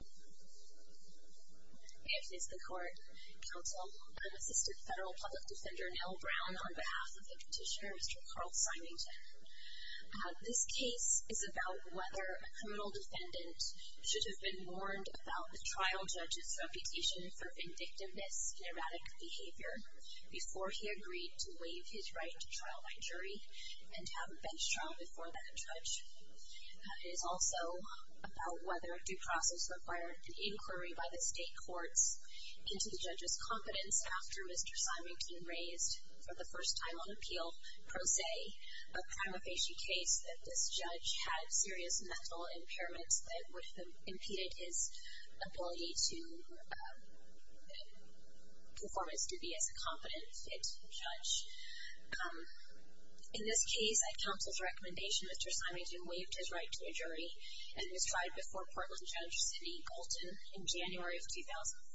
If it's the court, counsel, I'm Assistant Federal Public Defender Nell Brown on behalf of the petitioner Mr. Carl Simington. This case is about whether a criminal defendant should have been warned about the trial judge's reputation for vindictiveness, erratic behavior, before he agreed to waive his right to trial by jury and have a bench trial before that judge. It is also about whether a due process required an inquiry by the state courts into the judge's competence after Mr. Simington raised for the first time on appeal pro se a prima facie case that this judge had serious mental impairments that would have impeded his ability to perform his duty as a competent, fit judge. In this case, at counsel's recommendation, Mr. Simington waived his right to a jury and was tried before Portland Judge Sidney Galton in January of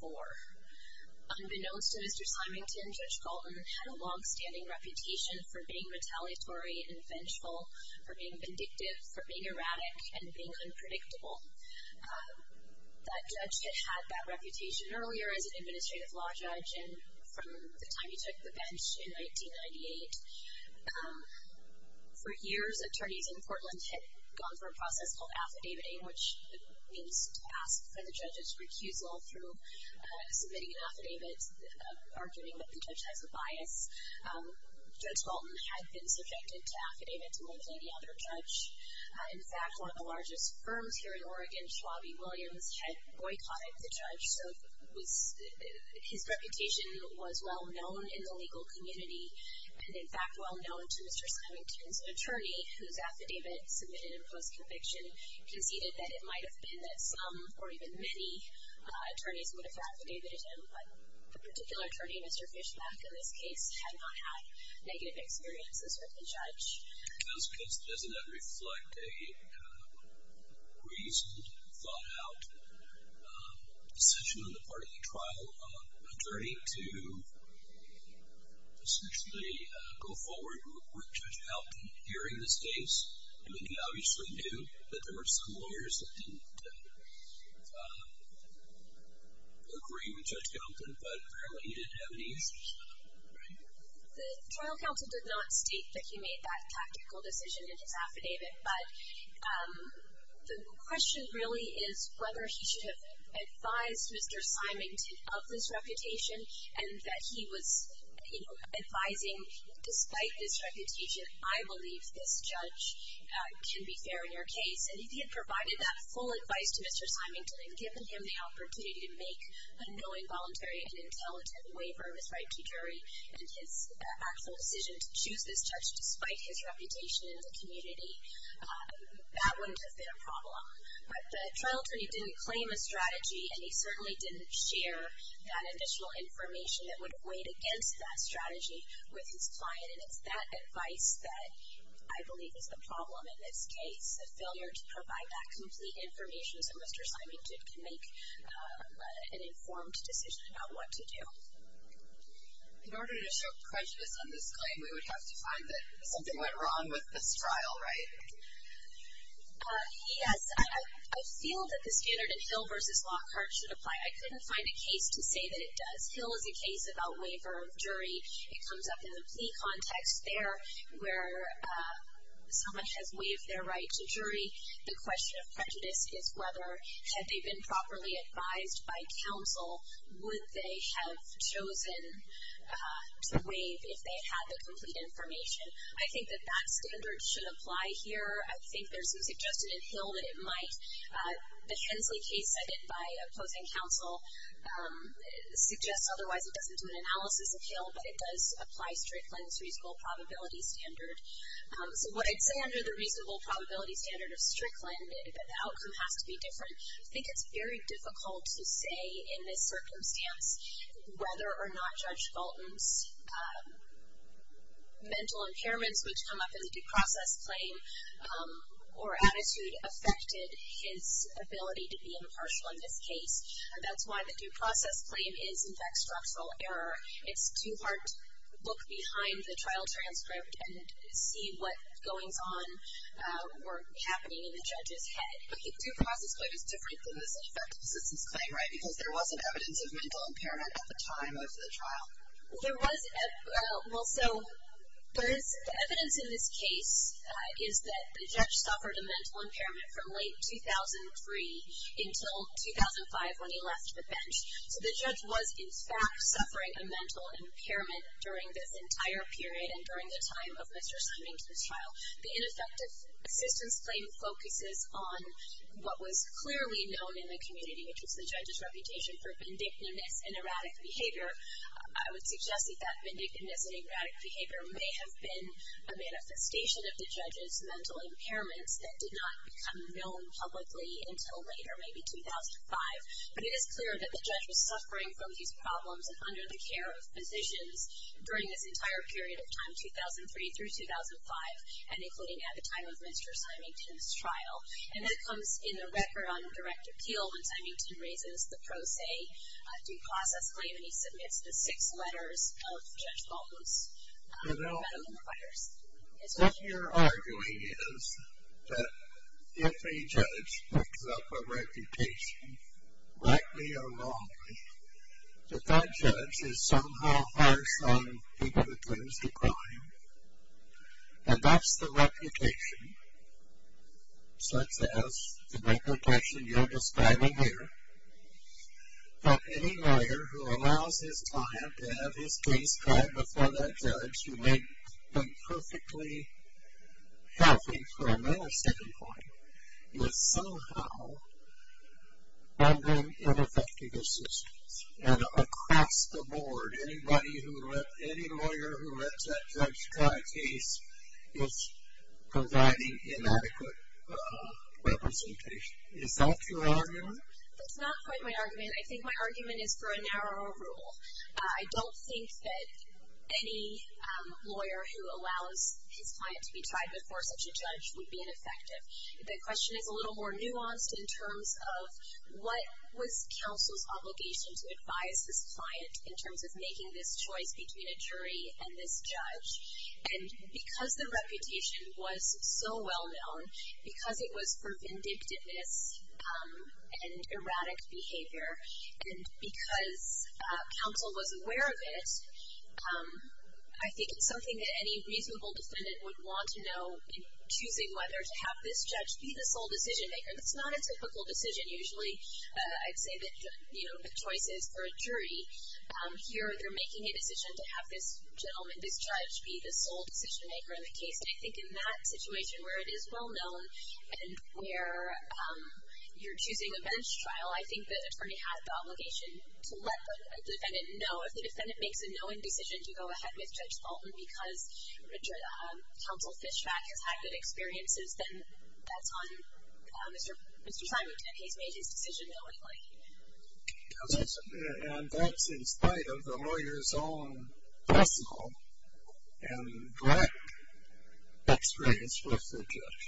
2004. Unbeknownst to Mr. Simington, Judge Galton had a long-standing reputation for being retaliatory and vengeful, for being vindictive, for being erratic, and being unpredictable. That judge had had that reputation earlier as an administrative law judge and from the time he took the bench in 1998. For years, attorneys in Portland had gone through a process called affidaviting, which means to ask for the judge's recusal through submitting an affidavit, arguing that the judge has a bias. Judge Galton had been subjected to affidavit from many other judge. In fact, one of the largest firms here in Oregon, Schwabby Williams, had boycotted the judge, so his reputation was well-known in the legal community and, in fact, well-known to Mr. Simington's attorney, whose affidavit submitted in post-conviction conceded that it might have been that some or even many attorneys would have affidavited him, but the particular attorney, Mr. Fischbach, in this case, had not had negative experiences with the judge. Does that reflect a reasoned, thought-out decision on the part of the trial attorney to essentially go forward with Judge Galton hearing this case? I mean, he obviously knew that there were some lawyers that didn't agree with Judge Galton, but apparently he didn't have any issues with him, right? The trial counsel did not state that he made that tactical decision in his affidavit, but the question really is whether he should have advised Mr. Simington of this reputation and that he was advising, despite this reputation, I believe this judge can be fair in your case. And if he had provided that full advice to Mr. Simington and given him the opportunity to make a knowing, voluntary, and intelligent waiver of his right to jury and his actual decision to choose this judge, despite his reputation in the community, that wouldn't have been a problem. But the trial attorney didn't claim a strategy, and he certainly didn't share that additional information that would weight against that strategy with his client, and it's that advice that I believe is the problem in this case, the failure to provide that complete information so Mr. Simington can make an informed decision about what to do. In order to show prejudice on this claim, we would have to find that something went wrong with this trial, right? Yes. I feel that the standard in Hill v. Lockhart should apply. I couldn't find a case to say that it does. Hill is a case about waiver of jury. It comes up in the plea context there where someone has waived their right to jury. The question of prejudice is whether, had they been properly advised by counsel, would they have chosen to waive if they had the complete information. I think that that standard should apply here. I think there's a suggestion in Hill that it might. The Hensley case I did by opposing counsel suggests otherwise it doesn't do an analysis of Hill, but it does apply Strickland's reasonable probability standard. So I'd say under the reasonable probability standard of Strickland that the outcome has to be different. I think it's very difficult to say in this circumstance whether or not Judge Galton's mental impairments, which come up in the due process claim or attitude, affected his ability to be impartial in this case. That's why the due process claim is, in fact, structural error. It's too hard to look behind the trial transcript and see what goings-on were happening in the judge's head. But the due process claim is different than this effective assistance claim, right? Because there wasn't evidence of mental impairment at the time of the trial. There was. Well, so there is evidence in this case is that the judge suffered a mental impairment from late 2003 until 2005 when he left the bench. So the judge was, in fact, suffering a mental impairment during this entire period and during the time of Mr. Simington's trial. The ineffective assistance claim focuses on what was clearly known in the community, which was the judge's reputation for vindictiveness and erratic behavior. I would suggest that that vindictiveness and erratic behavior may have been a manifestation of the judge's mental impairments that did not become known publicly until later, maybe 2005. But it is clear that the judge was suffering from these problems and under the care of physicians during this entire period of time, 2003 through 2005, and including at the time of Mr. Simington's trial. And that comes in the record on direct appeal when Simington raises the pro se due process claim and he submits the six letters of Judge Baldwin's federal inquiries. What you're arguing is that if a judge picks up a reputation, rightly or wrongly, that that judge is somehow harsh on people accused of crime, and that's the reputation, such as the reputation you're describing here, that any lawyer who allows his client to have his case tried before that judge who may have been perfectly healthy for a minor standing point, is somehow offering ineffective assistance. And across the board, any lawyer who lets that judge try a case is providing inadequate representation. Is that your argument? That's not quite my argument. I think my argument is for a narrower rule. I don't think that any lawyer who allows his client to be tried before such a judge would be ineffective. The question is a little more nuanced in terms of what was counsel's obligation to advise this client in terms of making this choice between a jury and this judge. And because the reputation was so well known, because it was for vindictiveness and erratic behavior, and because counsel was aware of it, I think it's something that any reasonable defendant would want to know in choosing whether to have this judge be the sole decision maker. That's not a typical decision. Usually I'd say that the choice is for a jury. Here they're making a decision to have this gentleman, this judge, be the sole decision maker in the case. And I think in that situation where it is well known and where you're choosing a bench trial, I think the attorney has the obligation to let the defendant know. If the defendant makes a knowing decision to go ahead with Judge Fulton because counsel Fischbach has had good experiences, then that's on Mr. Simon. He's made his decision knowingly. And that's in spite of the lawyer's own personal and direct experience with the judge.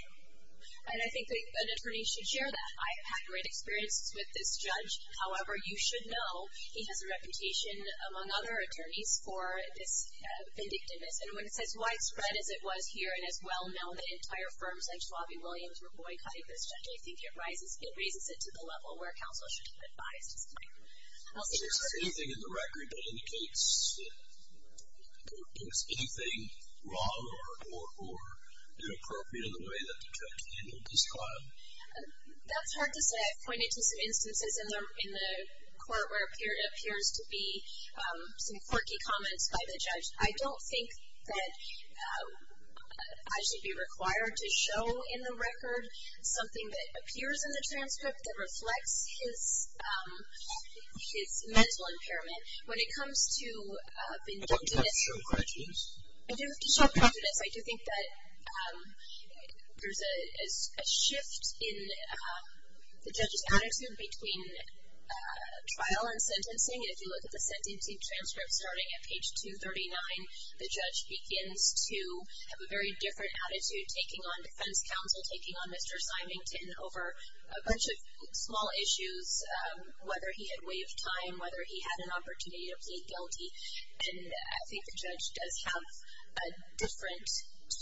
And I think an attorney should share that. I've had great experiences with this judge. However, you should know he has a reputation, among other attorneys, for this vindictiveness. And when it's as widespread as it was here and as well known, that entire firms like Schwab and Williams were boycotting this judge, I actually think it raises it to the level where counsel should be advised. Is there anything in the record that indicates there was anything wrong or inappropriate in the way that the judge handled this trial? That's hard to say. I've pointed to some instances in the court where it appears to be some quirky comments by the judge. I don't think that I should be required to show in the record something that appears in the transcript that reflects his mental impairment. When it comes to vindictiveness, I do think that there's a shift in the judge's attitude between trial and sentencing. If you look at the sentencing transcript starting at page 239, the judge begins to have a very different attitude taking on defense counsel, taking on Mr. Symington over a bunch of small issues, whether he had waived time, whether he had an opportunity to plead guilty. And I think the judge does have a different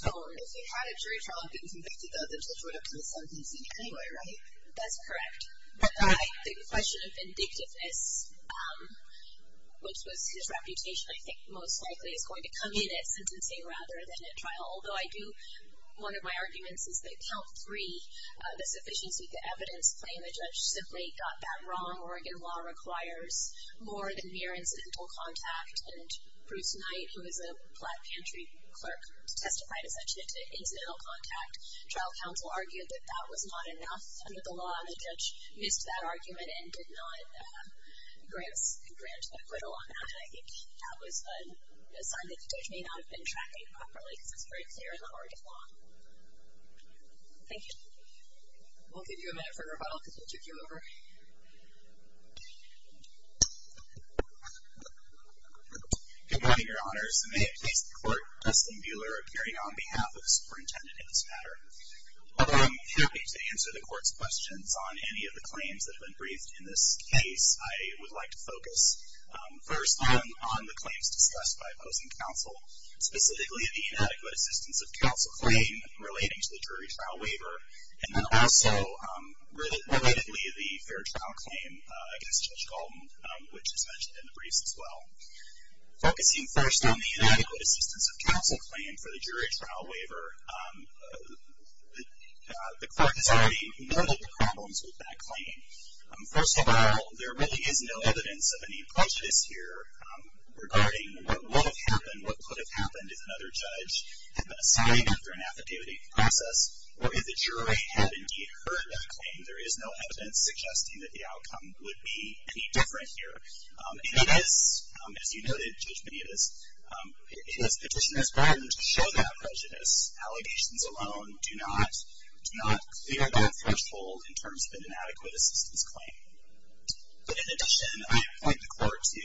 tone. If he had a jury trial that didn't convict him, the judge would have come to sentencing anyway, right? That's correct. The question of vindictiveness, which was his reputation, I think, most likely is going to come in at sentencing rather than at trial. Although I do, one of my arguments is that count three, the sufficiency of the evidence plain, the judge simply got that wrong. Oregon law requires more than mere incidental contact. And Bruce Knight, who is a Black Pantry clerk, testified essentially to incidental contact. Trial counsel argued that that was not enough under the law, and the judge used that argument and did not grant acquittal on that. I think that was a sign that the judge may not have been tracking properly because it's very clear in the Oregon law. Thank you. We'll give you a minute for rebuttal because we'll take you over. Good morning, Your Honors. May it please the Court, Dustin Buehler appearing on behalf of the superintendent in this matter. I'm happy to answer the Court's questions on any of the claims that have been briefed in this case. I would like to focus first on the claims discussed by opposing counsel, specifically the inadequate assistance of counsel claim relating to the jury trial waiver, and then also relatedly the fair trial claim against Judge Goldman, which is mentioned in the briefs as well. Focusing first on the inadequate assistance of counsel claim for the jury trial waiver, the Court has already noted the problems with that claim. First of all, there really is no evidence of any prejudice here regarding what would have happened, what could have happened if another judge had been assessing after an affidavit process, or if the jury had indeed heard that claim. There is no evidence suggesting that the outcome would be any different here. And it is, as you noted, Judge Medeiros, it is Petitioner's burden to show that prejudice. Allegations alone do not clear that threshold in terms of an inadequate assistance claim. But in addition, I point the Court to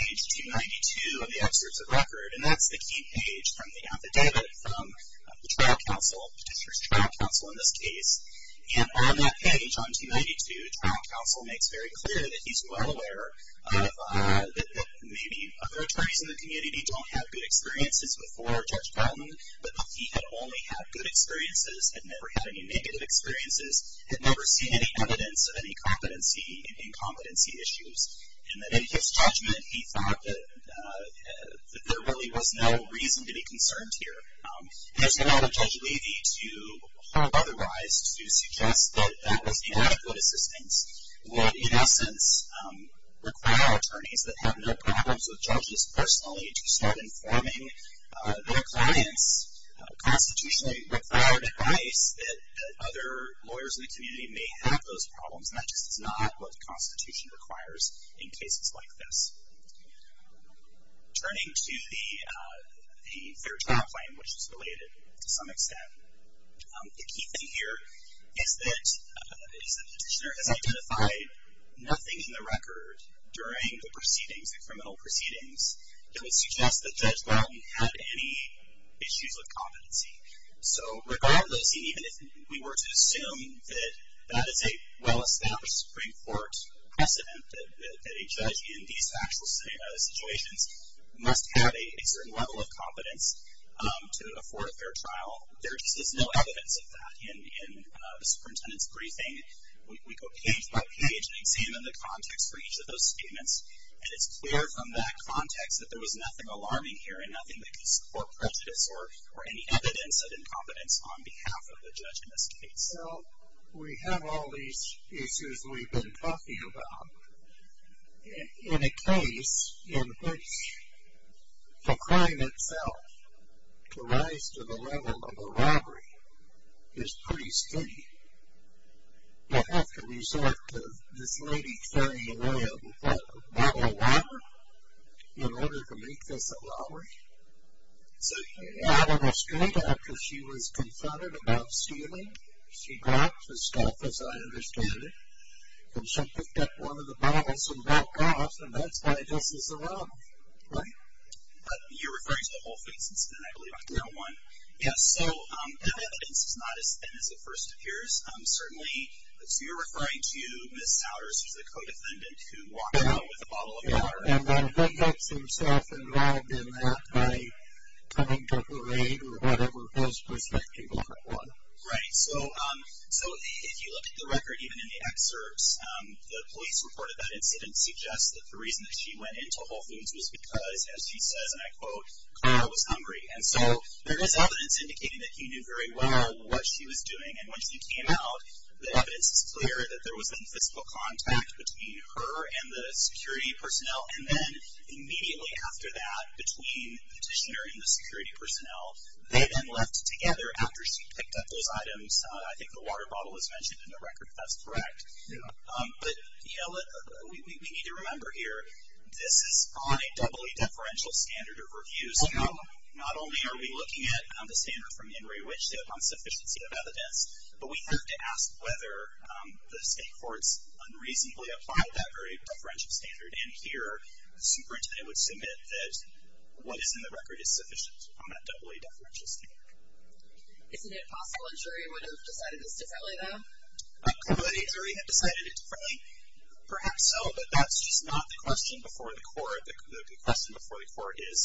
page 292 of the excerpts of record, and that's the key page from the affidavit from the trial counsel, Petitioner's trial counsel in this case. And on that page, on 292, trial counsel makes very clear that he's well aware that maybe other attorneys in the community don't have good experiences before Judge Goldman, but that he had only had good experiences, had never had any negative experiences, had never seen any evidence of any competency and incompetency issues. And that in his judgment, he thought that there really was no reason to be concerned here. There's a lot of Judge Levy to hold otherwise to suggest that that inadequate assistance would, in essence, require attorneys that have no problems with judges personally to start informing their clients, constitutionally required advice, that other lawyers in the community may have those problems. And that just is not what the Constitution requires in cases like this. Turning to the fair trial claim, which is related to some extent, the key thing here is that the Petitioner has identified nothing in the record during the proceedings, the criminal proceedings, that would suggest that Judge Goldman had any issues with competency. So regardless, even if we were to assume that that is a well-established Supreme Court precedent that a judge in these actual situations must have a certain level of competence to afford a fair trial, there is no evidence of that in the superintendent's briefing. We go page by page and examine the context for each of those statements, and it's clear from that context that there was nothing alarming here and nothing that could support prejudice or any evidence of incompetence on behalf of the judge in this case. So we have all these issues we've been talking about. In a case in which the crime itself, to rise to the level of a robbery, is pretty steady, you'll have to resort to this lady throwing away a bottle of water in order to make this a robbery. I don't understand that, because she was confronted about stealing. She dropped the stuff, as I understand it, and she picked up one of the bottles and walked off, and that's why this is a robbery, right? You're referring to the whole thing since then, I believe. Yes. So that evidence is not as thin as it first appears, certainly. So you're referring to Ms. Souters as the co-defendant who walked out with a bottle of water. And then he gets himself involved in that by coming to her aid or whatever his perspective on it was. Right. So if you look at the record, even in the excerpts, the police report of that incident suggests that the reason that she went into Whole Foods was because, as she says, and I quote, Clara was hungry. And so there is evidence indicating that he knew very well what she was doing, and when she came out, the evidence is clear that there was an invisible contact between her and the security personnel, and then immediately after that, between the petitioner and the security personnel, they then left together after she picked up those items. I think the water bottle is mentioned in the record if that's correct. Yeah. But, you know, we need to remember here, this is on a doubly deferential standard of review. So not only are we looking at the standard from Henry Wichita on sufficiency of evidence, but we have to ask whether the state courts unreasonably applied that very deferential standard, and here a superintendent would submit that what is in the record is sufficient on that doubly deferential standard. Isn't it possible a jury would have decided this differently, though? Could a jury have decided it differently? Perhaps so, but that's just not the question before the court. The question before the court is,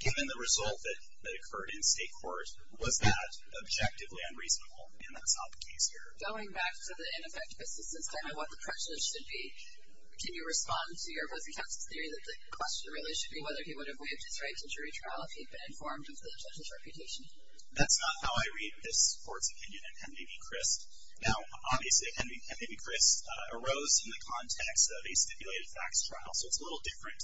given the result that occurred in state court, was that objectively unreasonable? And that's not the case here. Going back to the ineffective assistance, kind of what the prejudice should be, can you respond to your opposing counsel's theory that the question really should be whether he would have waived his right to jury trial if he had been informed of the judge's reputation? That's not how I read this court's opinion in MdV Crist. Now, obviously, MdV Crist arose from the context of a stipulated facts trial, so it's a little different.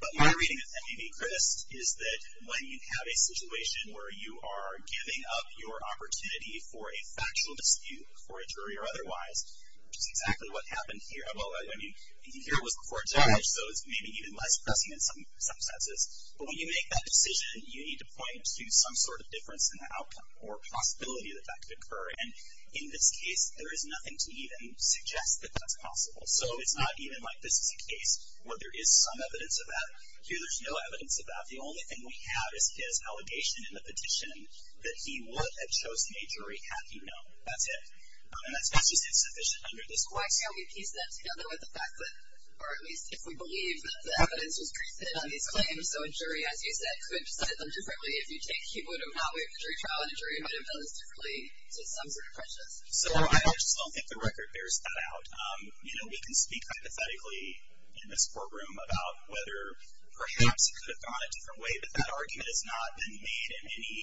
But my reading of MdV Crist is that when you have a situation where you are giving up your opportunity for a factual dispute before a jury or otherwise, which is exactly what happened here. Well, I mean, here it was before a judge, so it's maybe even less pressing in some senses. But when you make that decision, you need to point to some sort of difference in the outcome or possibility that that could occur. And in this case, there is nothing to even suggest that that's possible. So it's not even like this is a case where there is some evidence of that. Here there's no evidence of that. The only thing we have is his allegation in the petition that he would have chosen a jury, had he known. That's it. And that's just insufficient under this court. Why can't we piece that together with the fact that, or at least if we believe that the evidence was created on these claims, so a jury, as you said, could decide them differently. If you take he would have not waived the jury trial, a jury might have done this differently to some sort of prejudice. So I just don't think the record bears that out. We can speak hypothetically in this courtroom about whether perhaps it could have gone a different way, but that argument has not been made in any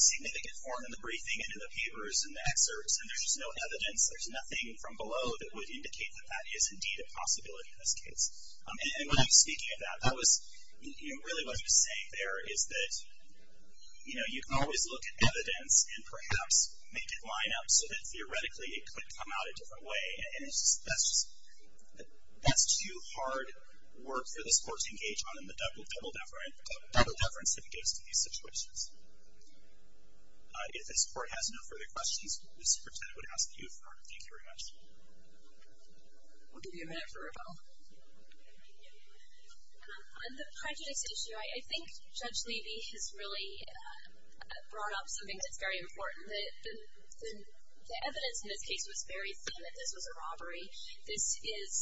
significant form in the briefing and in the papers and the excerpts. And there's no evidence. There's nothing from below that would indicate that that is indeed a possibility in this case. And when I'm speaking of that, really what I'm saying there is that you can always look at evidence and perhaps make it line up so that theoretically it could come out a different way. And that's too hard work for this court to engage on in the double deference it gives to these situations. If this court has no further questions, Ms. Pertetta would ask you for them. Thank you very much. We'll give you a minute for a rebuttal. On the prejudice issue, I think Judge Levy has really brought up something that's very important. The evidence in this case was very thin that this was a robbery. This is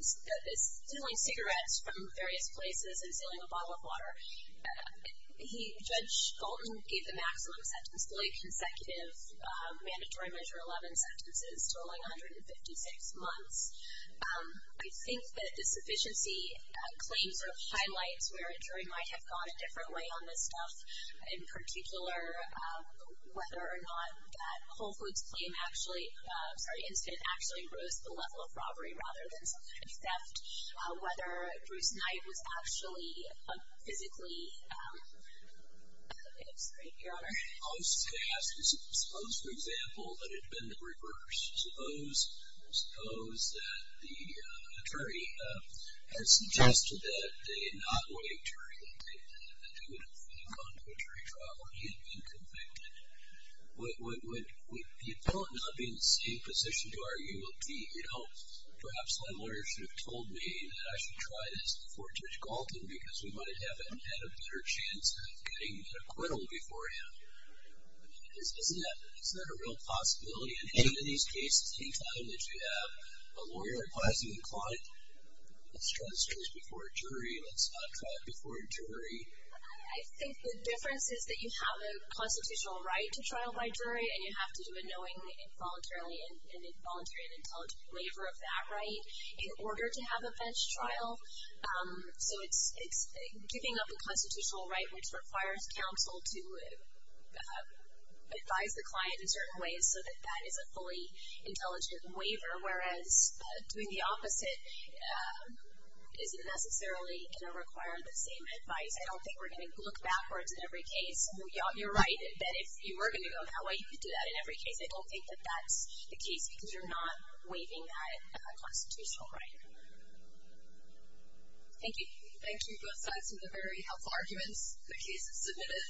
stealing cigarettes from various places and stealing a bottle of water. Judge Fulton gave the maximum sentence to lay consecutive mandatory Measure 11 sentences, totaling 156 months. I think that the sufficiency claims are highlights where a jury might have gone a different way on this stuff. In particular, whether or not that Whole Foods claim actually, I'm sorry, incident actually rose to the level of robbery rather than some kind of theft. Whether Bruce Knight was actually physically, I'm sorry, Your Honor. I was just going to ask, suppose, for example, that it had been reversed. Suppose that the attorney had suggested that they had not waived jury, that they would have gone to a jury trial where he had been convicted. Would the appellant not be in the same position to argue, well, perhaps my lawyer should have told me that I should try this before Judge Galton because we might have had a better chance of getting an acquittal beforehand. Isn't that a real possibility in any of these cases? Any time that you have a lawyer acquiescing client, let's try this case before a jury, let's not try it before a jury. I think the difference is that you have a constitutional right to trial by jury, and you have to do a knowing involuntary and intelligent waiver of that right in order to have a bench trial. So it's giving up a constitutional right, which requires counsel to advise the client in certain ways so that that is a fully intelligent waiver, whereas doing the opposite isn't necessarily going to require the same advice. I don't think we're going to look backwards in every case. You're right that if you were going to go that way, you could do that in every case. I don't think that that's the case because you're not waiving that constitutional right. Thank you. Thank you, both sides, for the very helpful arguments. The case is submitted.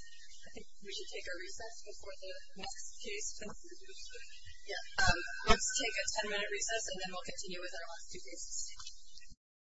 I think we should take our recess before the next case. Let's take a ten-minute recess, and then we'll continue with our last two cases.